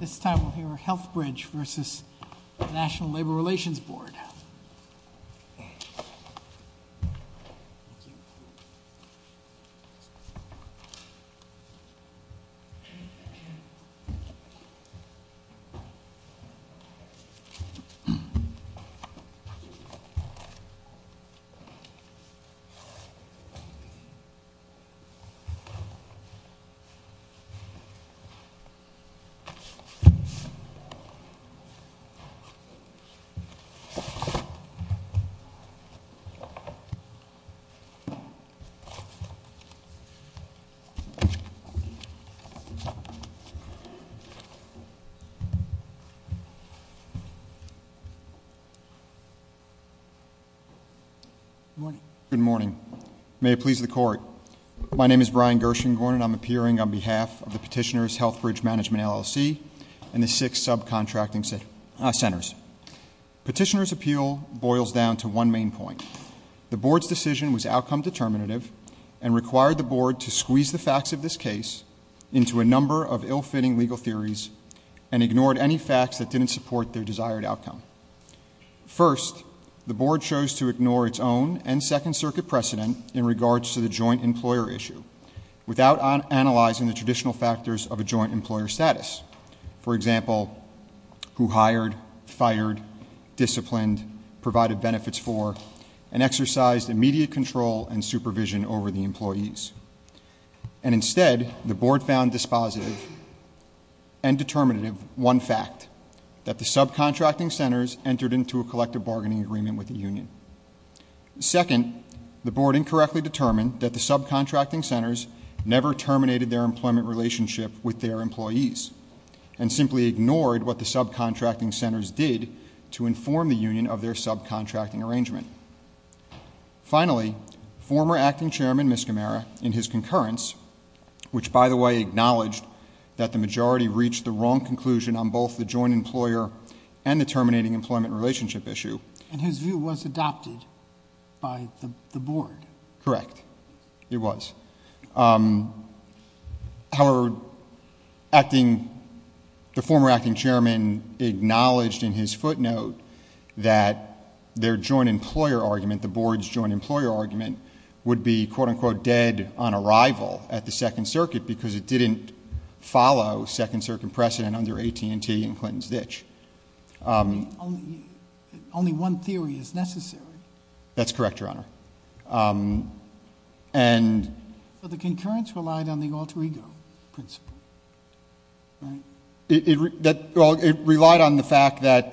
This time we'll hear healthbridge versus the national labor relations board. Good morning. May it please the court. My name is Brian Gershengorn and I'm appearing on behalf of the petitioner's healthbridge management LLC and the six subcontracting centers. Petitioner's appeal boils down to one main point. The board's decision was outcome determinative and required the board to squeeze the facts of this case into a number of ill-fitting legal theories and ignored any facts that didn't support their desired outcome. First, the board chose to ignore its own and second circuit precedent in regards to the joint employer issue. Without analyzing the traditional factors of a joint employer status. For example, who hired, fired, disciplined, provided benefits for, and exercised immediate control and supervision over the employees. And instead, the board found dispositive and determinative one fact, that the subcontracting centers entered into a collective bargaining agreement with the union. Second, the board incorrectly determined that the subcontracting centers never terminated their employment relationship with their employees. And simply ignored what the subcontracting centers did to inform the union of their subcontracting arrangement. Finally, former acting chairman Miscamara in his concurrence, which by the way acknowledged that the majority reached the wrong conclusion on both the joint employer and the terminating employment relationship issue. And his view was adopted by the board. Correct, it was. However, the former acting chairman acknowledged in his footnote that their joint employer argument, the board's joint employer argument, would be quote unquote dead on arrival at the second circuit because it didn't follow second circuit precedent under AT&T and Clinton's ditch. Only one theory is necessary. That's correct, your honor. And. But the concurrence relied on the alter ego principle, right? It relied on the fact that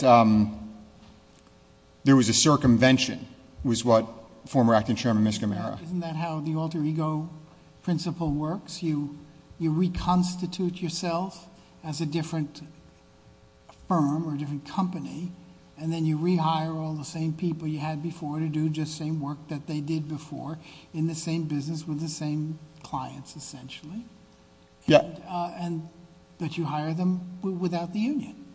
there was a circumvention, was what former acting chairman Miscamara. Isn't that how the alter ego principle works? You reconstitute yourself as a different firm or a different company. And then you rehire all the same people you had before to do just the same work that they did before in the same business with the same clients essentially. Yeah. And that you hire them without the union.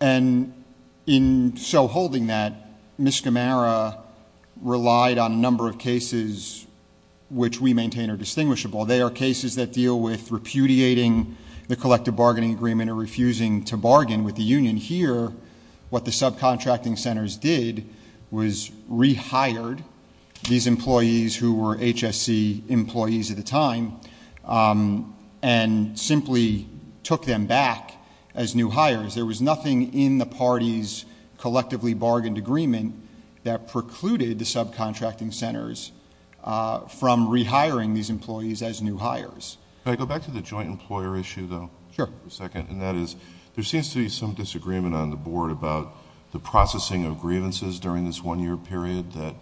And in so holding that, Miscamara relied on a number of cases which we maintain are distinguishable. They are cases that deal with repudiating the collective bargaining agreement or refusing to bargain with the union. Here, what the subcontracting centers did was rehired these employees who were HSC employees at the time and simply took them back as new hires. There was nothing in the party's collectively bargained agreement that precluded the subcontracting centers from rehiring these employees as new hires. Can I go back to the joint employer issue though? Sure. For a second, and that is, there seems to be some disagreement on the board about the processing of grievances during this one year period that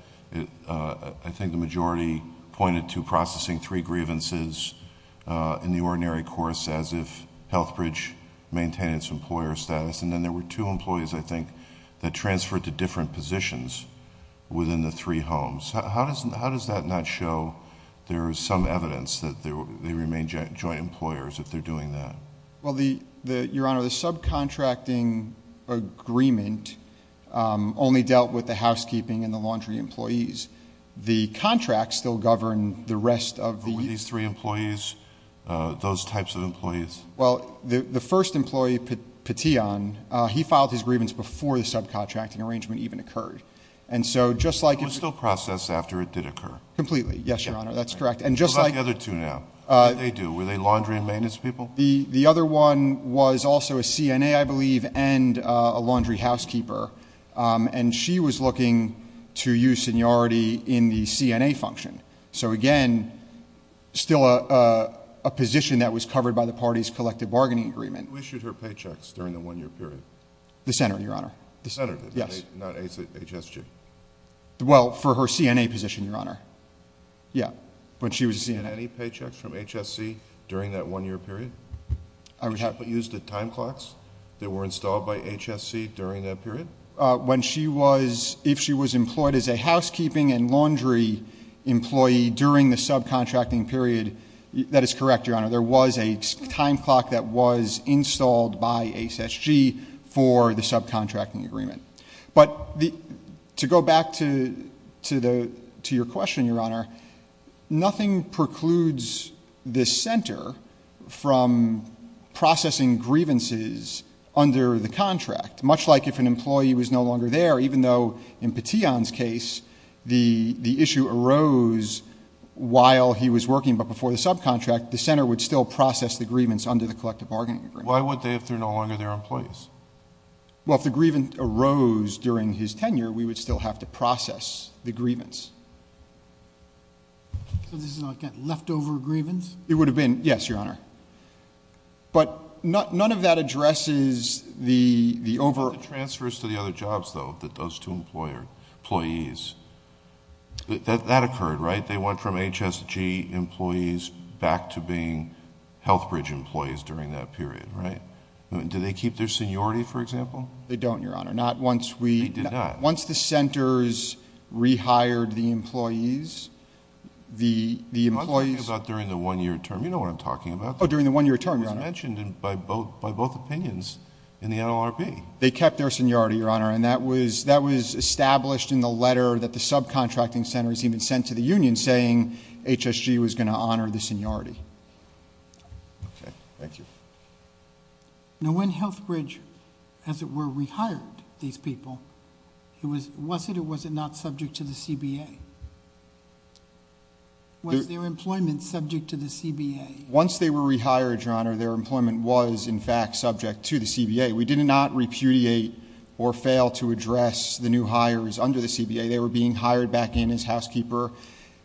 I think the majority pointed to processing three grievances in the ordinary course as if Healthbridge maintained its employer status. And then there were two employees, I think, that transferred to different positions within the three homes. How does that not show there is some evidence that they remain joint employers if they're doing that? Well, Your Honor, the subcontracting agreement only dealt with the housekeeping and the laundry employees. The contracts still govern the rest of the- But were these three employees those types of employees? Well, the first employee, Petion, he filed his grievance before the subcontracting arrangement even occurred. And so just like- So it was still processed after it did occur? Completely, yes, Your Honor, that's correct. And just like- What about the other two now? What did they do? Were they laundry and maintenance people? The other one was also a CNA, I believe, and a laundry housekeeper. And she was looking to use seniority in the CNA function. So again, still a position that was covered by the party's collective bargaining agreement. Who issued her paychecks during the one year period? The Senator, Your Honor. The Senator did, not HSG? Well, for her CNA position, Your Honor, yeah, when she was a CNA. Did she get any paychecks from HSC during that one year period? I would have- Was she used at time clocks that were installed by HSC during that period? When she was, if she was employed as a housekeeping and laundry employee during the subcontracting period, that is correct, Your Honor. There was a time clock that was installed by HSG for the subcontracting agreement. But to go back to your question, Your Honor, nothing precludes this center from processing grievances under the contract. Much like if an employee was no longer there, even though in Petion's case, the issue arose while he was working but before the subcontract. The center would still process the grievance under the collective bargaining agreement. Why would they if they're no longer their employees? Well, if the grievance arose during his tenure, we would still have to process the grievance. So this is, again, leftover grievance? It would have been, yes, Your Honor. But none of that addresses the over- The transfers to the other jobs, though, that those two employees, that occurred, right? They went from HSG employees back to being Health Bridge employees during that period, right? Do they keep their seniority, for example? They don't, Your Honor. Not once we- They did not. Once the centers rehired the employees, the employees- I'm talking about during the one year term. You know what I'm talking about. During the one year term, Your Honor. It was mentioned by both opinions in the NLRB. They kept their seniority, Your Honor, and that was established in the letter that the subcontracting center has even sent to the union, saying HSG was going to honor the seniority. Okay, thank you. Now, when Health Bridge, as it were, rehired these people, was it or was it not subject to the CBA? Was their employment subject to the CBA? Once they were rehired, Your Honor, their employment was, in fact, subject to the CBA. We did not repudiate or fail to address the new hires under the CBA. They were being hired back in as housekeeper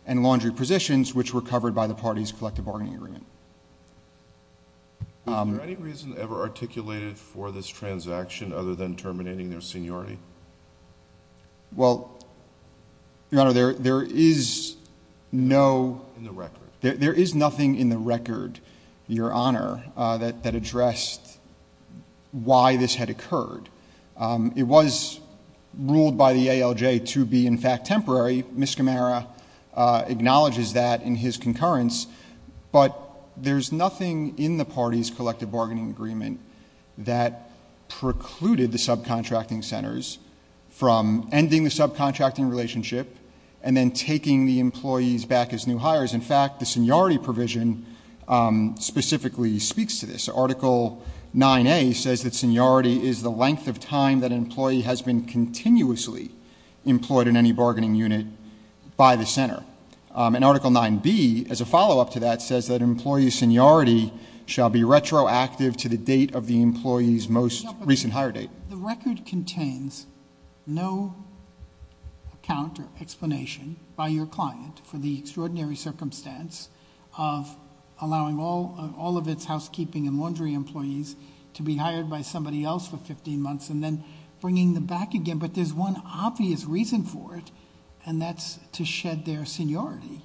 and laundry positions, which were covered by the party's collective bargaining agreement. Was there any reason ever articulated for this transaction other than terminating their seniority? Well, Your Honor, there is no- In the record. There is nothing in the record, Your Honor, that addressed why this had occurred. It was ruled by the ALJ to be, in fact, temporary. Ms. Camara acknowledges that in his concurrence. But there's nothing in the party's collective bargaining agreement that precluded the subcontracting centers from ending the subcontracting relationship and then taking the employees back as new hires. In fact, the seniority provision specifically speaks to this. Article 9A says that seniority is the length of time that an employee has been continuously employed in any bargaining unit by the center. And Article 9B, as a follow-up to that, says that employee seniority shall be retroactive to the date of the employee's most recent hire date. The record contains no account or explanation by your client for the extraordinary circumstance of allowing all of its housekeeping and laundry employees to be hired by somebody else for 15 months and then bringing them back again. But there's one obvious reason for it, and that's to shed their seniority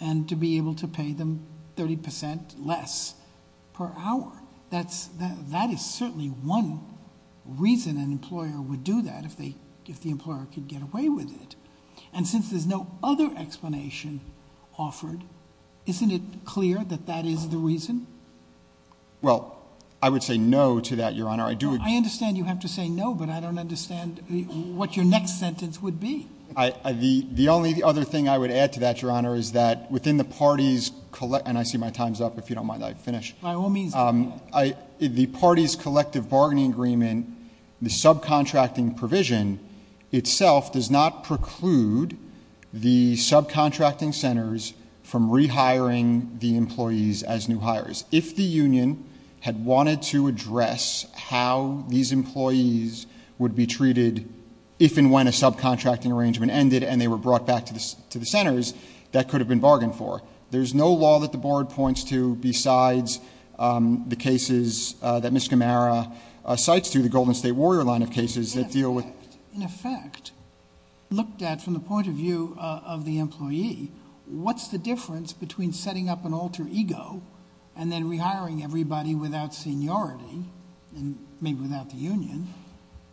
and to be able to pay them 30% less per hour. That is certainly one reason an employer would do that if the employer could get away with it. And since there's no other explanation offered, isn't it clear that that is the reason? Well, I would say no to that, Your Honor. I do- I understand you have to say no, but I don't understand what your next sentence would be. The only other thing I would add to that, Your Honor, is that within the party's, and I see my time's up, if you don't mind that I finish. By all means, do that. The party's collective bargaining agreement, the subcontracting provision itself does not preclude the subcontracting centers from rehiring the employees as new hires. If the union had wanted to address how these employees would be treated, if and when a subcontracting arrangement ended and they were brought back to the centers, that could have been bargained for. There's no law that the board points to besides the cases that Ms. Gamara cites through the Golden State Warrior line of cases that deal with- In effect, looked at from the point of view of the employee, what's the difference between setting up an alter ego and then rehiring everybody without seniority, and maybe without the union,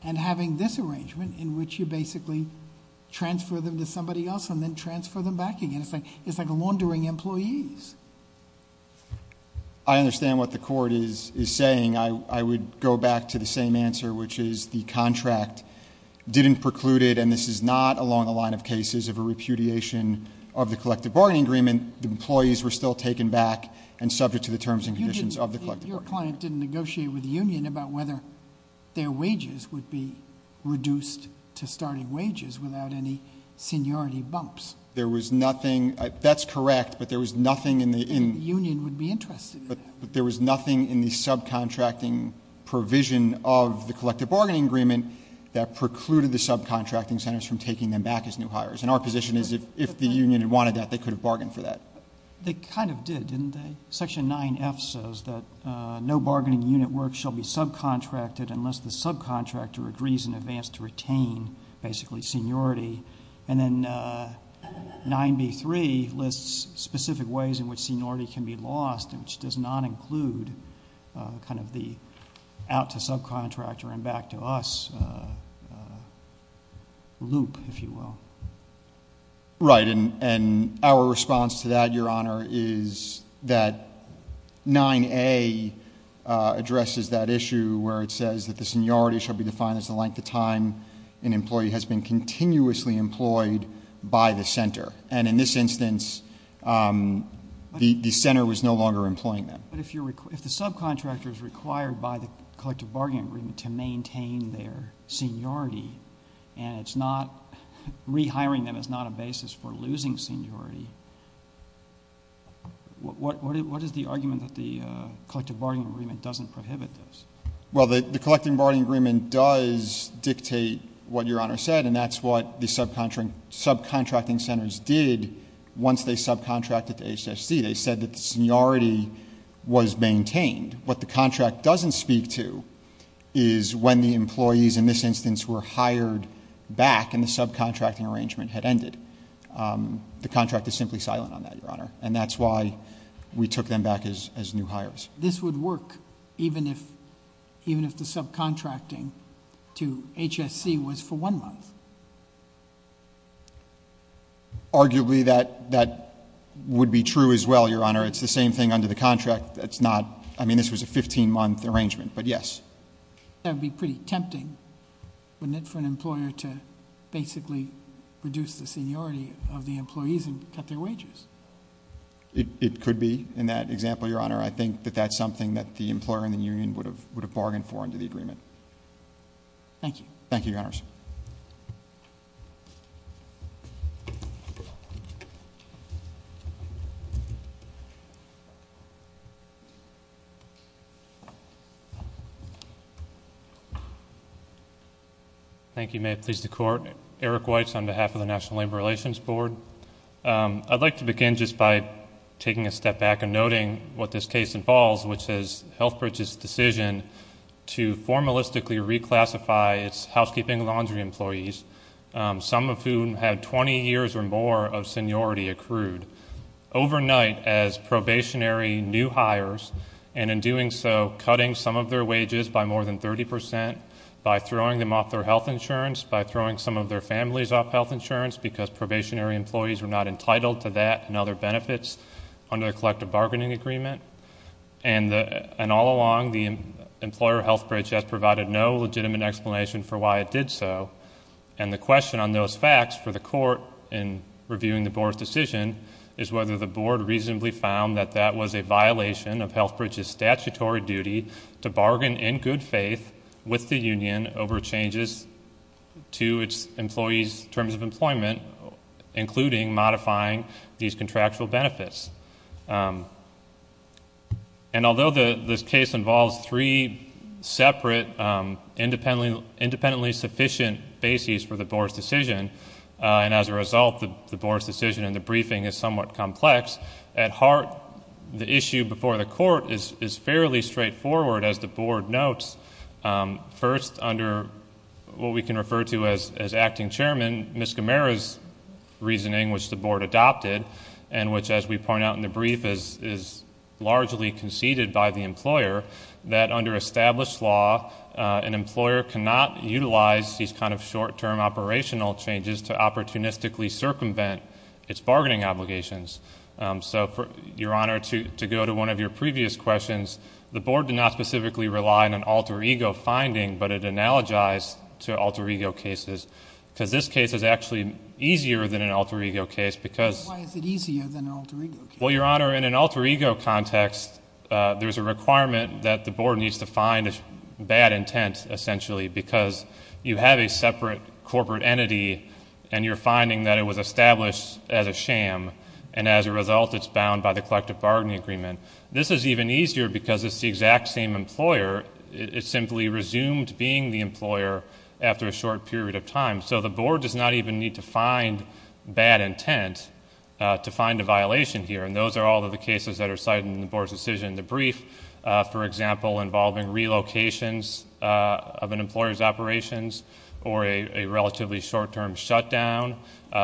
and having this arrangement in which you basically transfer them to somebody else and then transfer them back again. It's like laundering employees. I understand what the court is saying. I would go back to the same answer, which is the contract didn't preclude it, and this is not along the line of cases of a repudiation of the collective bargaining agreement. The employees were still taken back and subject to the terms and conditions of the collective bargaining agreement. Your client didn't negotiate with the union about whether their wages would be reduced to starting wages without any seniority bumps. There was nothing, that's correct, but there was nothing in the- Union would be interested in that. But there was nothing in the subcontracting provision of the collective bargaining agreement that precluded the subcontracting centers from taking them back as new hires, and our position is if the union had wanted that, they could have bargained for that. They kind of did, didn't they? Section 9F says that no bargaining unit work shall be subcontracted unless the subcontractor agrees in advance to retain, basically, seniority. And then 9B3 lists specific ways in which seniority can be lost, which does not include kind of the out to subcontractor and back to us loop, if you will. Right, and our response to that, Your Honor, is that 9A addresses that issue where it says that the seniority shall be defined as the length of time an employee has been continuously employed by the center. And in this instance, the center was no longer employing them. But if the subcontractor is required by the collective bargaining agreement to maintain their seniority, and it's not, rehiring them is not a basis for losing seniority, what is the argument that the collective bargaining agreement doesn't prohibit this? Well, the collective bargaining agreement does dictate what Your Honor said, and that's what the subcontracting centers did once they subcontracted to HSC. They said that the seniority was maintained. What the contract doesn't speak to is when the employees in this instance were hired back and the subcontracting arrangement had ended. The contract is simply silent on that, Your Honor, and that's why we took them back as new hires. This would work even if the subcontracting to HSC was for one month. Arguably, that would be true as well, Your Honor. It's the same thing under the contract. That's not, I mean, this was a 15 month arrangement, but yes. That would be pretty tempting, wouldn't it, for an employer to basically reduce the seniority of the employees and cut their wages? It could be, in that example, Your Honor. I think that that's something that the employer and the union would have bargained for under the agreement. Thank you. Thank you, Your Honors. Thank you, may it please the court. Eric Weitz on behalf of the National Labor Relations Board. I'd like to begin just by taking a step back and noting what this case involves, which is Healthbridge's decision to formalistically reclassify its housekeeping laundry employees. Some of whom have 20 years or more of seniority accrued. Overnight as probationary new hires, and in doing so, cutting some of their wages by more than 30%, by throwing them off their health insurance, by throwing some of their families off health insurance because probationary employees were not entitled to that and other benefits under the collective bargaining agreement. And all along, the employer Healthbridge has provided no legitimate explanation for why it did so. And the question on those facts for the court in reviewing the board's decision is whether the board reasonably found that that was a violation of Healthbridge's statutory duty to bargain in good faith with the union over changes to its employees' terms of employment, including modifying these contractual benefits. And although this case involves three separate independently sufficient bases for the board's decision. And as a result, the board's decision in the briefing is somewhat complex. At heart, the issue before the court is fairly straightforward as the board notes. First, under what we can refer to as acting chairman, Ms. Gamera's reasoning, which the board adopted, and which as we point out in the brief is largely conceded by the employer. That under established law, an employer cannot utilize these kind of short term operational changes to opportunistically circumvent its bargaining obligations. So your honor, to go to one of your previous questions, the board did not specifically rely on alter ego finding, but it analogized to alter ego cases. because this case is actually easier than an alter ego case because- Why is it easier than an alter ego case? Well, your honor, in an alter ego context, there's a requirement that the board needs to find a bad intent, essentially, because you have a separate corporate entity and you're finding that it was established as a sham. And as a result, it's bound by the collective bargaining agreement. This is even easier because it's the exact same employer, it simply resumed being the employer after a short period of time. So the board does not even need to find bad intent to find a violation here. And those are all of the cases that are cited in the board's decision in the brief. For example, involving relocations of an employer's operations or a relatively short term shutdown,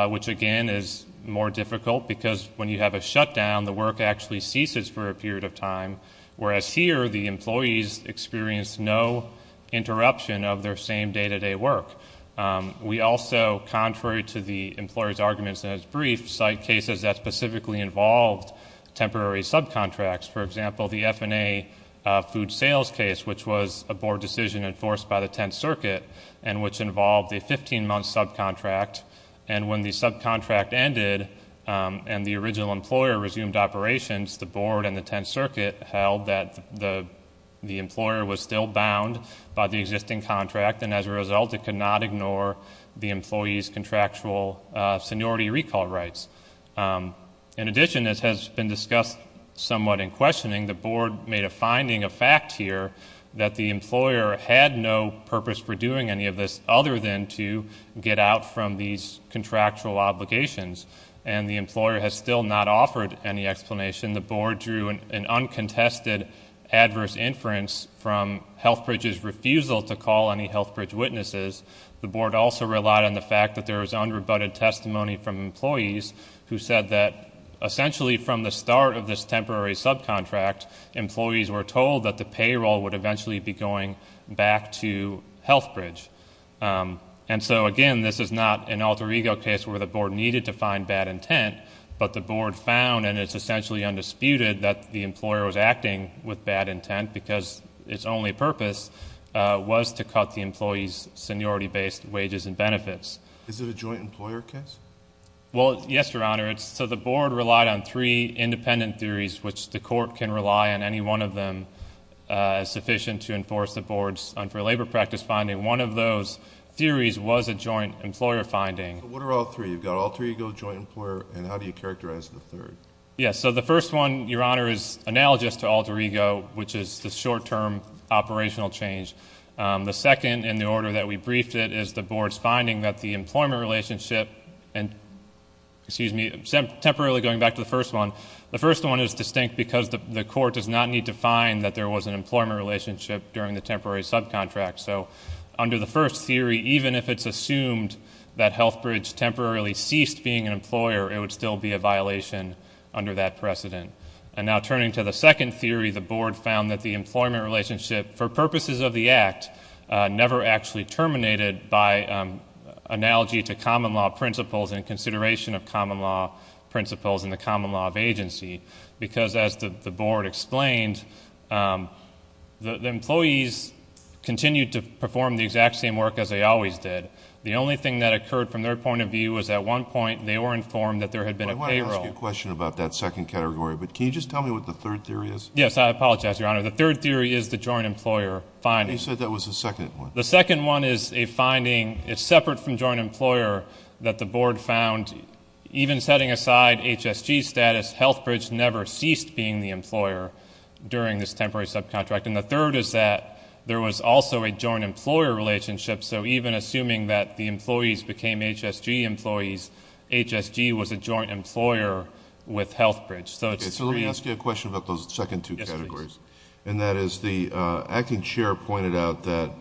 which again is more difficult. Because when you have a shutdown, the work actually ceases for a period of time. Whereas here, the employees experience no interruption of their same day to day work. We also, contrary to the employer's arguments in his brief, cite cases that specifically involved temporary subcontracts. For example, the F&A food sales case, which was a board decision enforced by the 10th circuit. And which involved a 15 month subcontract. And when the subcontract ended, and the original employer resumed operations, the board and the 10th circuit held that the employer was still bound by the existing contract. And as a result, it could not ignore the employee's contractual seniority recall rights. In addition, as has been discussed somewhat in questioning, the board made a finding, a fact here, that the employer had no purpose for doing any of this other than to get out from these contractual obligations. And the employer has still not offered any explanation. The board drew an uncontested adverse inference from Healthbridge's refusal to call any Healthbridge witnesses. The board also relied on the fact that there was unrebutted testimony from employees who said that, essentially from the start of this temporary subcontract, employees were told that the payroll would eventually be going back to Healthbridge. And so again, this is not an alter ego case where the board needed to find bad intent. But the board found, and it's essentially undisputed, that the employer was acting with bad intent because its only purpose was to cut the employee's seniority-based wages and benefits. Is it a joint employer case? Well, yes, your honor. So the board relied on three independent theories, which the court can rely on any one of them, sufficient to enforce the board's unfair labor practice finding. One of those theories was a joint employer finding. What are all three? You've got alter ego, joint employer, and how do you characterize the third? Yes, so the first one, your honor, is analogous to alter ego, which is the short-term operational change. The second, in the order that we briefed it, is the board's finding that the employment relationship and, excuse me, temporarily going back to the first one. The first one is distinct because the court does not need to find that there was an employment relationship during the temporary subcontract. So under the first theory, even if it's assumed that Healthbridge temporarily ceased being an employer, it would still be a violation under that precedent. And now turning to the second theory, the board found that the employment relationship, for purposes of the act, never actually terminated by analogy to common law principles and consideration of common law principles in the common law of agency. Because as the board explained, the employees continued to perform the exact same work as they always did. The only thing that occurred from their point of view was at one point, they were informed that there had been a payroll. I want to ask you a question about that second category, but can you just tell me what the third theory is? Yes, I apologize, your honor. The third theory is the joint employer finding. You said that was the second one. The second one is a finding, it's separate from joint employer, that the board found, even setting aside HSG status, Healthbridge never ceased being the employer during this temporary subcontract. And the third is that there was also a joint employer relationship. So even assuming that the employees became HSG employees, HSG was a joint employer with Healthbridge. So it's- Okay, so let me ask you a question about those second two categories. And that is the acting chair pointed out that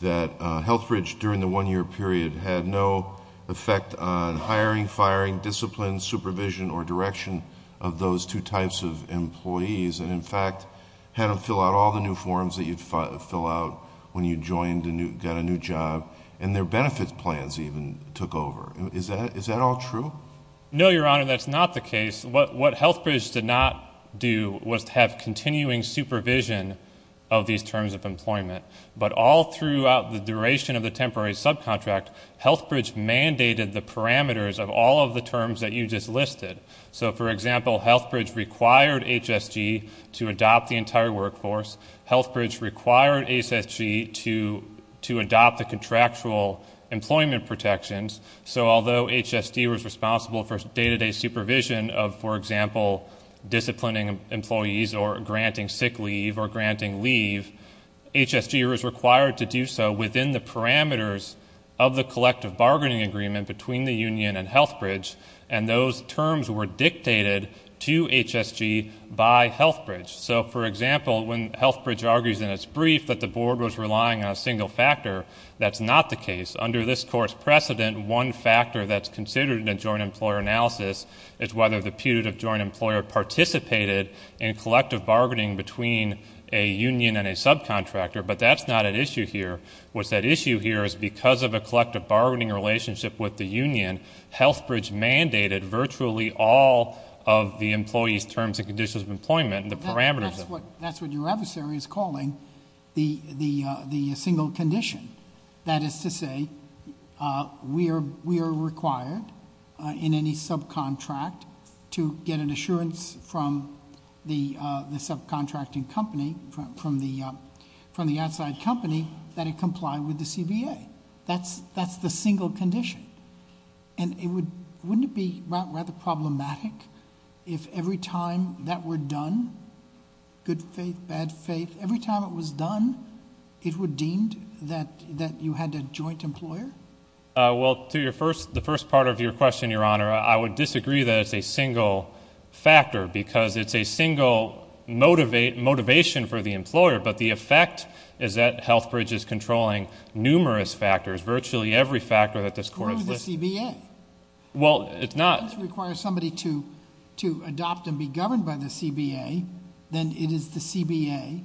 Healthbridge, during the one year period, had no effect on hiring, firing, discipline, supervision, or direction of those two types of employees. And in fact, had them fill out all the new forms that you'd fill out when you joined and got a new job, and their benefits plans even took over. Is that all true? No, your honor, that's not the case. What Healthbridge did not do was to have continuing supervision of these terms of employment. But all throughout the duration of the temporary subcontract, Healthbridge mandated the parameters of all of the terms that you just listed. So for example, Healthbridge required HSG to adopt the entire workforce. Healthbridge required HSG to adopt the contractual employment protections. So although HSG was responsible for day-to-day supervision of, for example, disciplining employees or granting sick leave or granting leave, HSG was required to do so within the parameters of the collective bargaining agreement between the union and Healthbridge. And those terms were dictated to HSG by Healthbridge. So for example, when Healthbridge argues in its brief that the board was relying on a single factor, that's not the case. Under this court's precedent, one factor that's considered in a joint employer analysis is whether the putative joint employer participated in collective bargaining between a union and a subcontractor, but that's not at issue here. What's at issue here is because of a collective bargaining relationship with the union, Healthbridge mandated virtually all of the employee's terms and conditions of employment and the parameters of it. That's what your adversary is calling the single condition. That is to say, we are required in any subcontract to get an assurance from the subcontracting company, from the outside company, that it complied with the CBA. That's the single condition. And wouldn't it be rather problematic if every time that were done, good faith, bad faith, every time it was done, it were deemed that you had a joint employer? Well, to the first part of your question, your honor, I would disagree that it's a single factor, because it's a single motivation for the employer, but the effect is that Healthbridge is controlling numerous factors, virtually every factor that this court has listed. Through the CBA. Well, it's not. If you require somebody to adopt and be governed by the CBA, then it is the CBA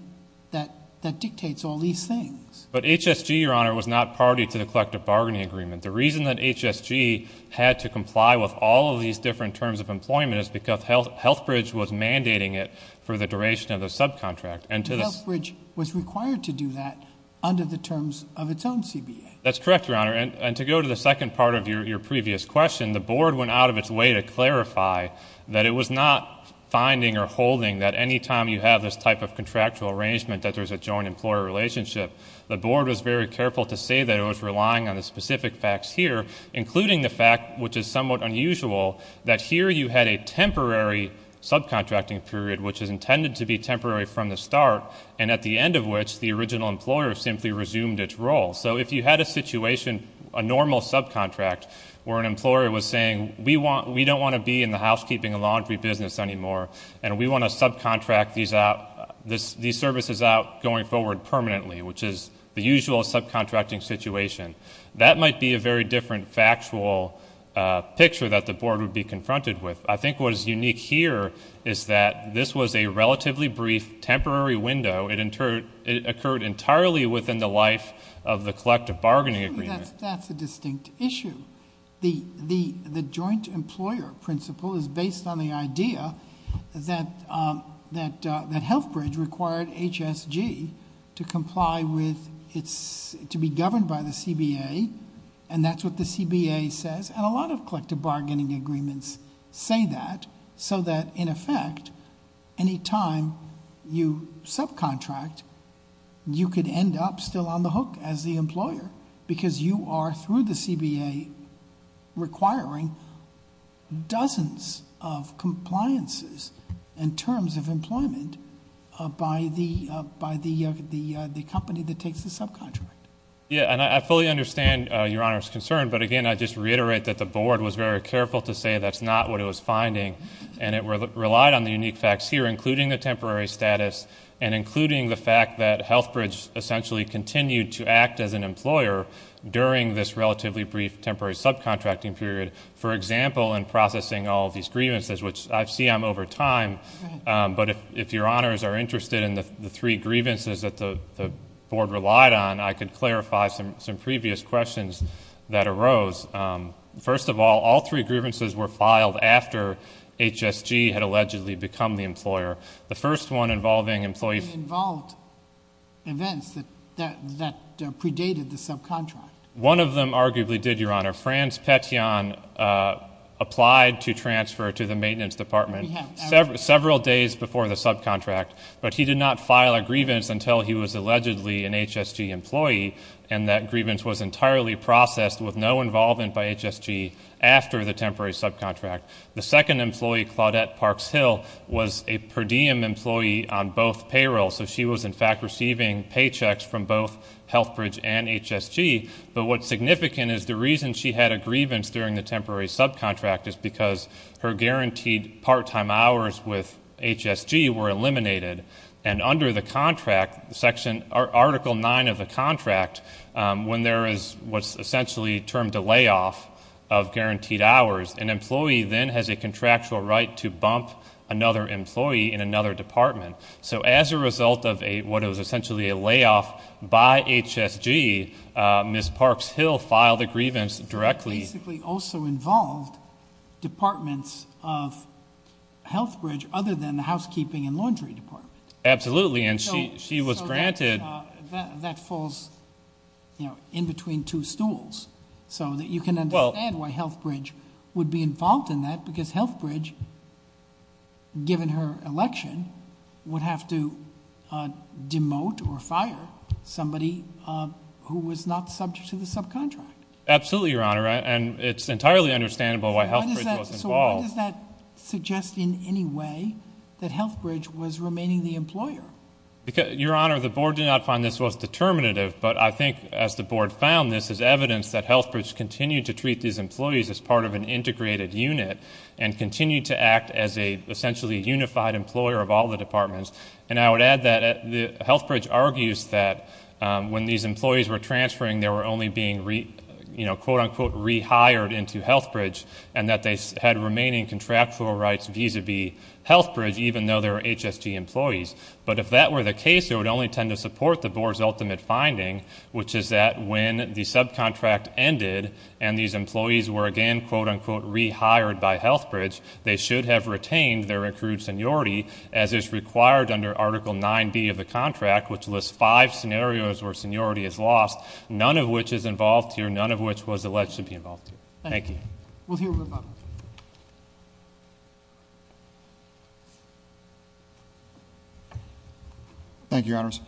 that dictates all these things. But HSG, your honor, was not party to the collective bargaining agreement. The reason that HSG had to comply with all of these different terms of employment is because Healthbridge was mandating it for the duration of the subcontract. And Healthbridge was required to do that under the terms of its own CBA. That's correct, your honor, and to go to the second part of your previous question, the board went out of its way to clarify that it was not finding or holding that anytime you have this type of contractual arrangement that there's a joint employer relationship. The board was very careful to say that it was relying on the specific facts here, including the fact, which is somewhat unusual, that here you had a temporary subcontracting period, which is intended to be temporary from the start, and at the end of which, the original employer simply resumed its role. So if you had a situation, a normal subcontract, where an employer was saying, we don't want to be in the housekeeping and laundry business anymore, and we want to subcontract these services out going forward permanently, which is the usual subcontracting situation. That might be a very different factual picture that the board would be confronted with. I think what is unique here is that this was a relatively brief, temporary window. It occurred entirely within the life of the collective bargaining agreement. That's a distinct issue. The joint employer principle is based on the idea that Healthbridge required HSG to comply with, to be governed by the CBA, and that's what the CBA says, and a lot of collective bargaining agreements say that, so that in effect, any time you subcontract, you could end up still on the hook as the employer. Because you are, through the CBA, requiring dozens of compliances in terms of employment by the company that takes the subcontract. Yeah, and I fully understand Your Honor's concern, but again, I just reiterate that the board was very careful to say that's not what it was finding. And it relied on the unique facts here, including the temporary status and including the fact that Healthbridge essentially continued to act as an employer during this relatively brief temporary subcontracting period. For example, in processing all these grievances, which I see I'm over time, but if Your Honors are interested in the three grievances that the board relied on, I could clarify some previous questions that arose. First of all, all three grievances were filed after HSG had allegedly become the employer. The first one involving employees- Involved events that predated the subcontract. One of them arguably did, Your Honor. Franz Petian applied to transfer to the maintenance department several days before the subcontract. But he did not file a grievance until he was allegedly an HSG employee. And that grievance was entirely processed with no involvement by HSG after the temporary subcontract. The second employee, Claudette Parks Hill, was a per diem employee on both payrolls. So she was in fact receiving paychecks from both Healthbridge and HSG. But what's significant is the reason she had a grievance during the temporary subcontract is because her guaranteed part-time hours with HSG were eliminated. And under the contract, Article 9 of the contract, when there is what's essentially termed a layoff of guaranteed hours, an employee then has a contractual right to bump another employee in another department. So as a result of what is essentially a layoff by HSG, Ms. Parks Hill filed a grievance directly- Basically also involved departments of Healthbridge other than the housekeeping and laundry department. Absolutely, and she was granted- That falls in between two stools. So that you can understand why Healthbridge would be involved in that, because Healthbridge, given her election, would have to demote or fire somebody who was not subject to the subcontract. Absolutely, Your Honor, and it's entirely understandable why Healthbridge was involved. So why does that suggest in any way that Healthbridge was remaining the employer? Because, Your Honor, the board did not find this was determinative. But I think as the board found this as evidence that Healthbridge continued to treat these employees as part of an integrated unit. And continued to act as a essentially unified employer of all the departments. And I would add that Healthbridge argues that when these employees were transferring, they were only being quote unquote rehired into Healthbridge. And that they had remaining contractual rights vis-a-vis Healthbridge, even though they're HSG employees. But if that were the case, it would only tend to support the board's ultimate finding, which is that when the subcontract ended, and these employees were again quote unquote rehired by Healthbridge, they should have retained their accrued seniority as is required under Article 9B of the contract, which lists five scenarios where seniority is lost, none of which is involved here, none of which was alleged to be involved here. Thank you. We'll hear from Bob. Thank you, Your Honors.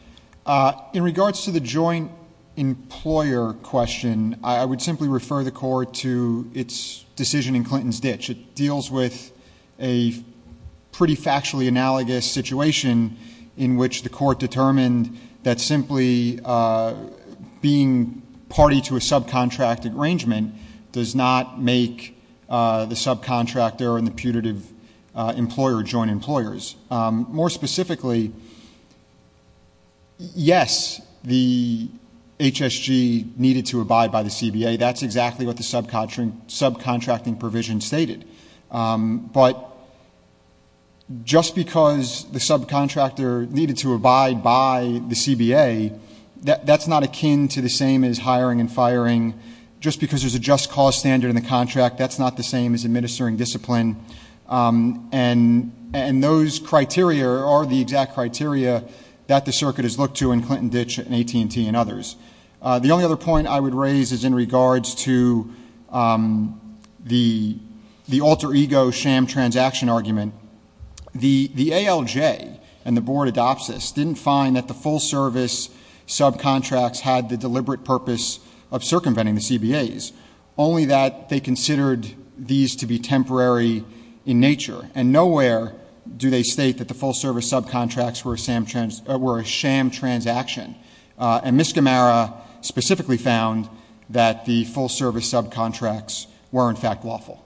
In regards to the joint employer question, I would simply refer the court to its decision in Clinton's ditch. It deals with a pretty factually analogous situation in which the court determined that simply being party to a subcontract arrangement does not make the subcontractor and the putative employer joint employers. More specifically, yes, the HSG needed to abide by the CBA. That's exactly what the subcontracting provision stated. But just because the subcontractor needed to abide by the CBA, that's not akin to the same as hiring and firing, just because there's a just cause standard in the contract, that's not the same as administering discipline, and those criteria are the exact criteria that the circuit has looked to in Clinton Ditch and AT&T and others. The only other point I would raise is in regards to the alter ego sham transaction argument. The ALJ and the board adopts this, didn't find that the full service subcontracts had the deliberate purpose of circumventing the CBAs. Only that they considered these to be temporary in nature. And nowhere do they state that the full service subcontracts were a sham transaction. And Ms. Gamara specifically found that the full service subcontracts were in fact lawful.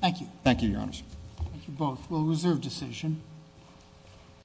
Thank you. Thank you, your honors. Thank you both. We'll reserve decision.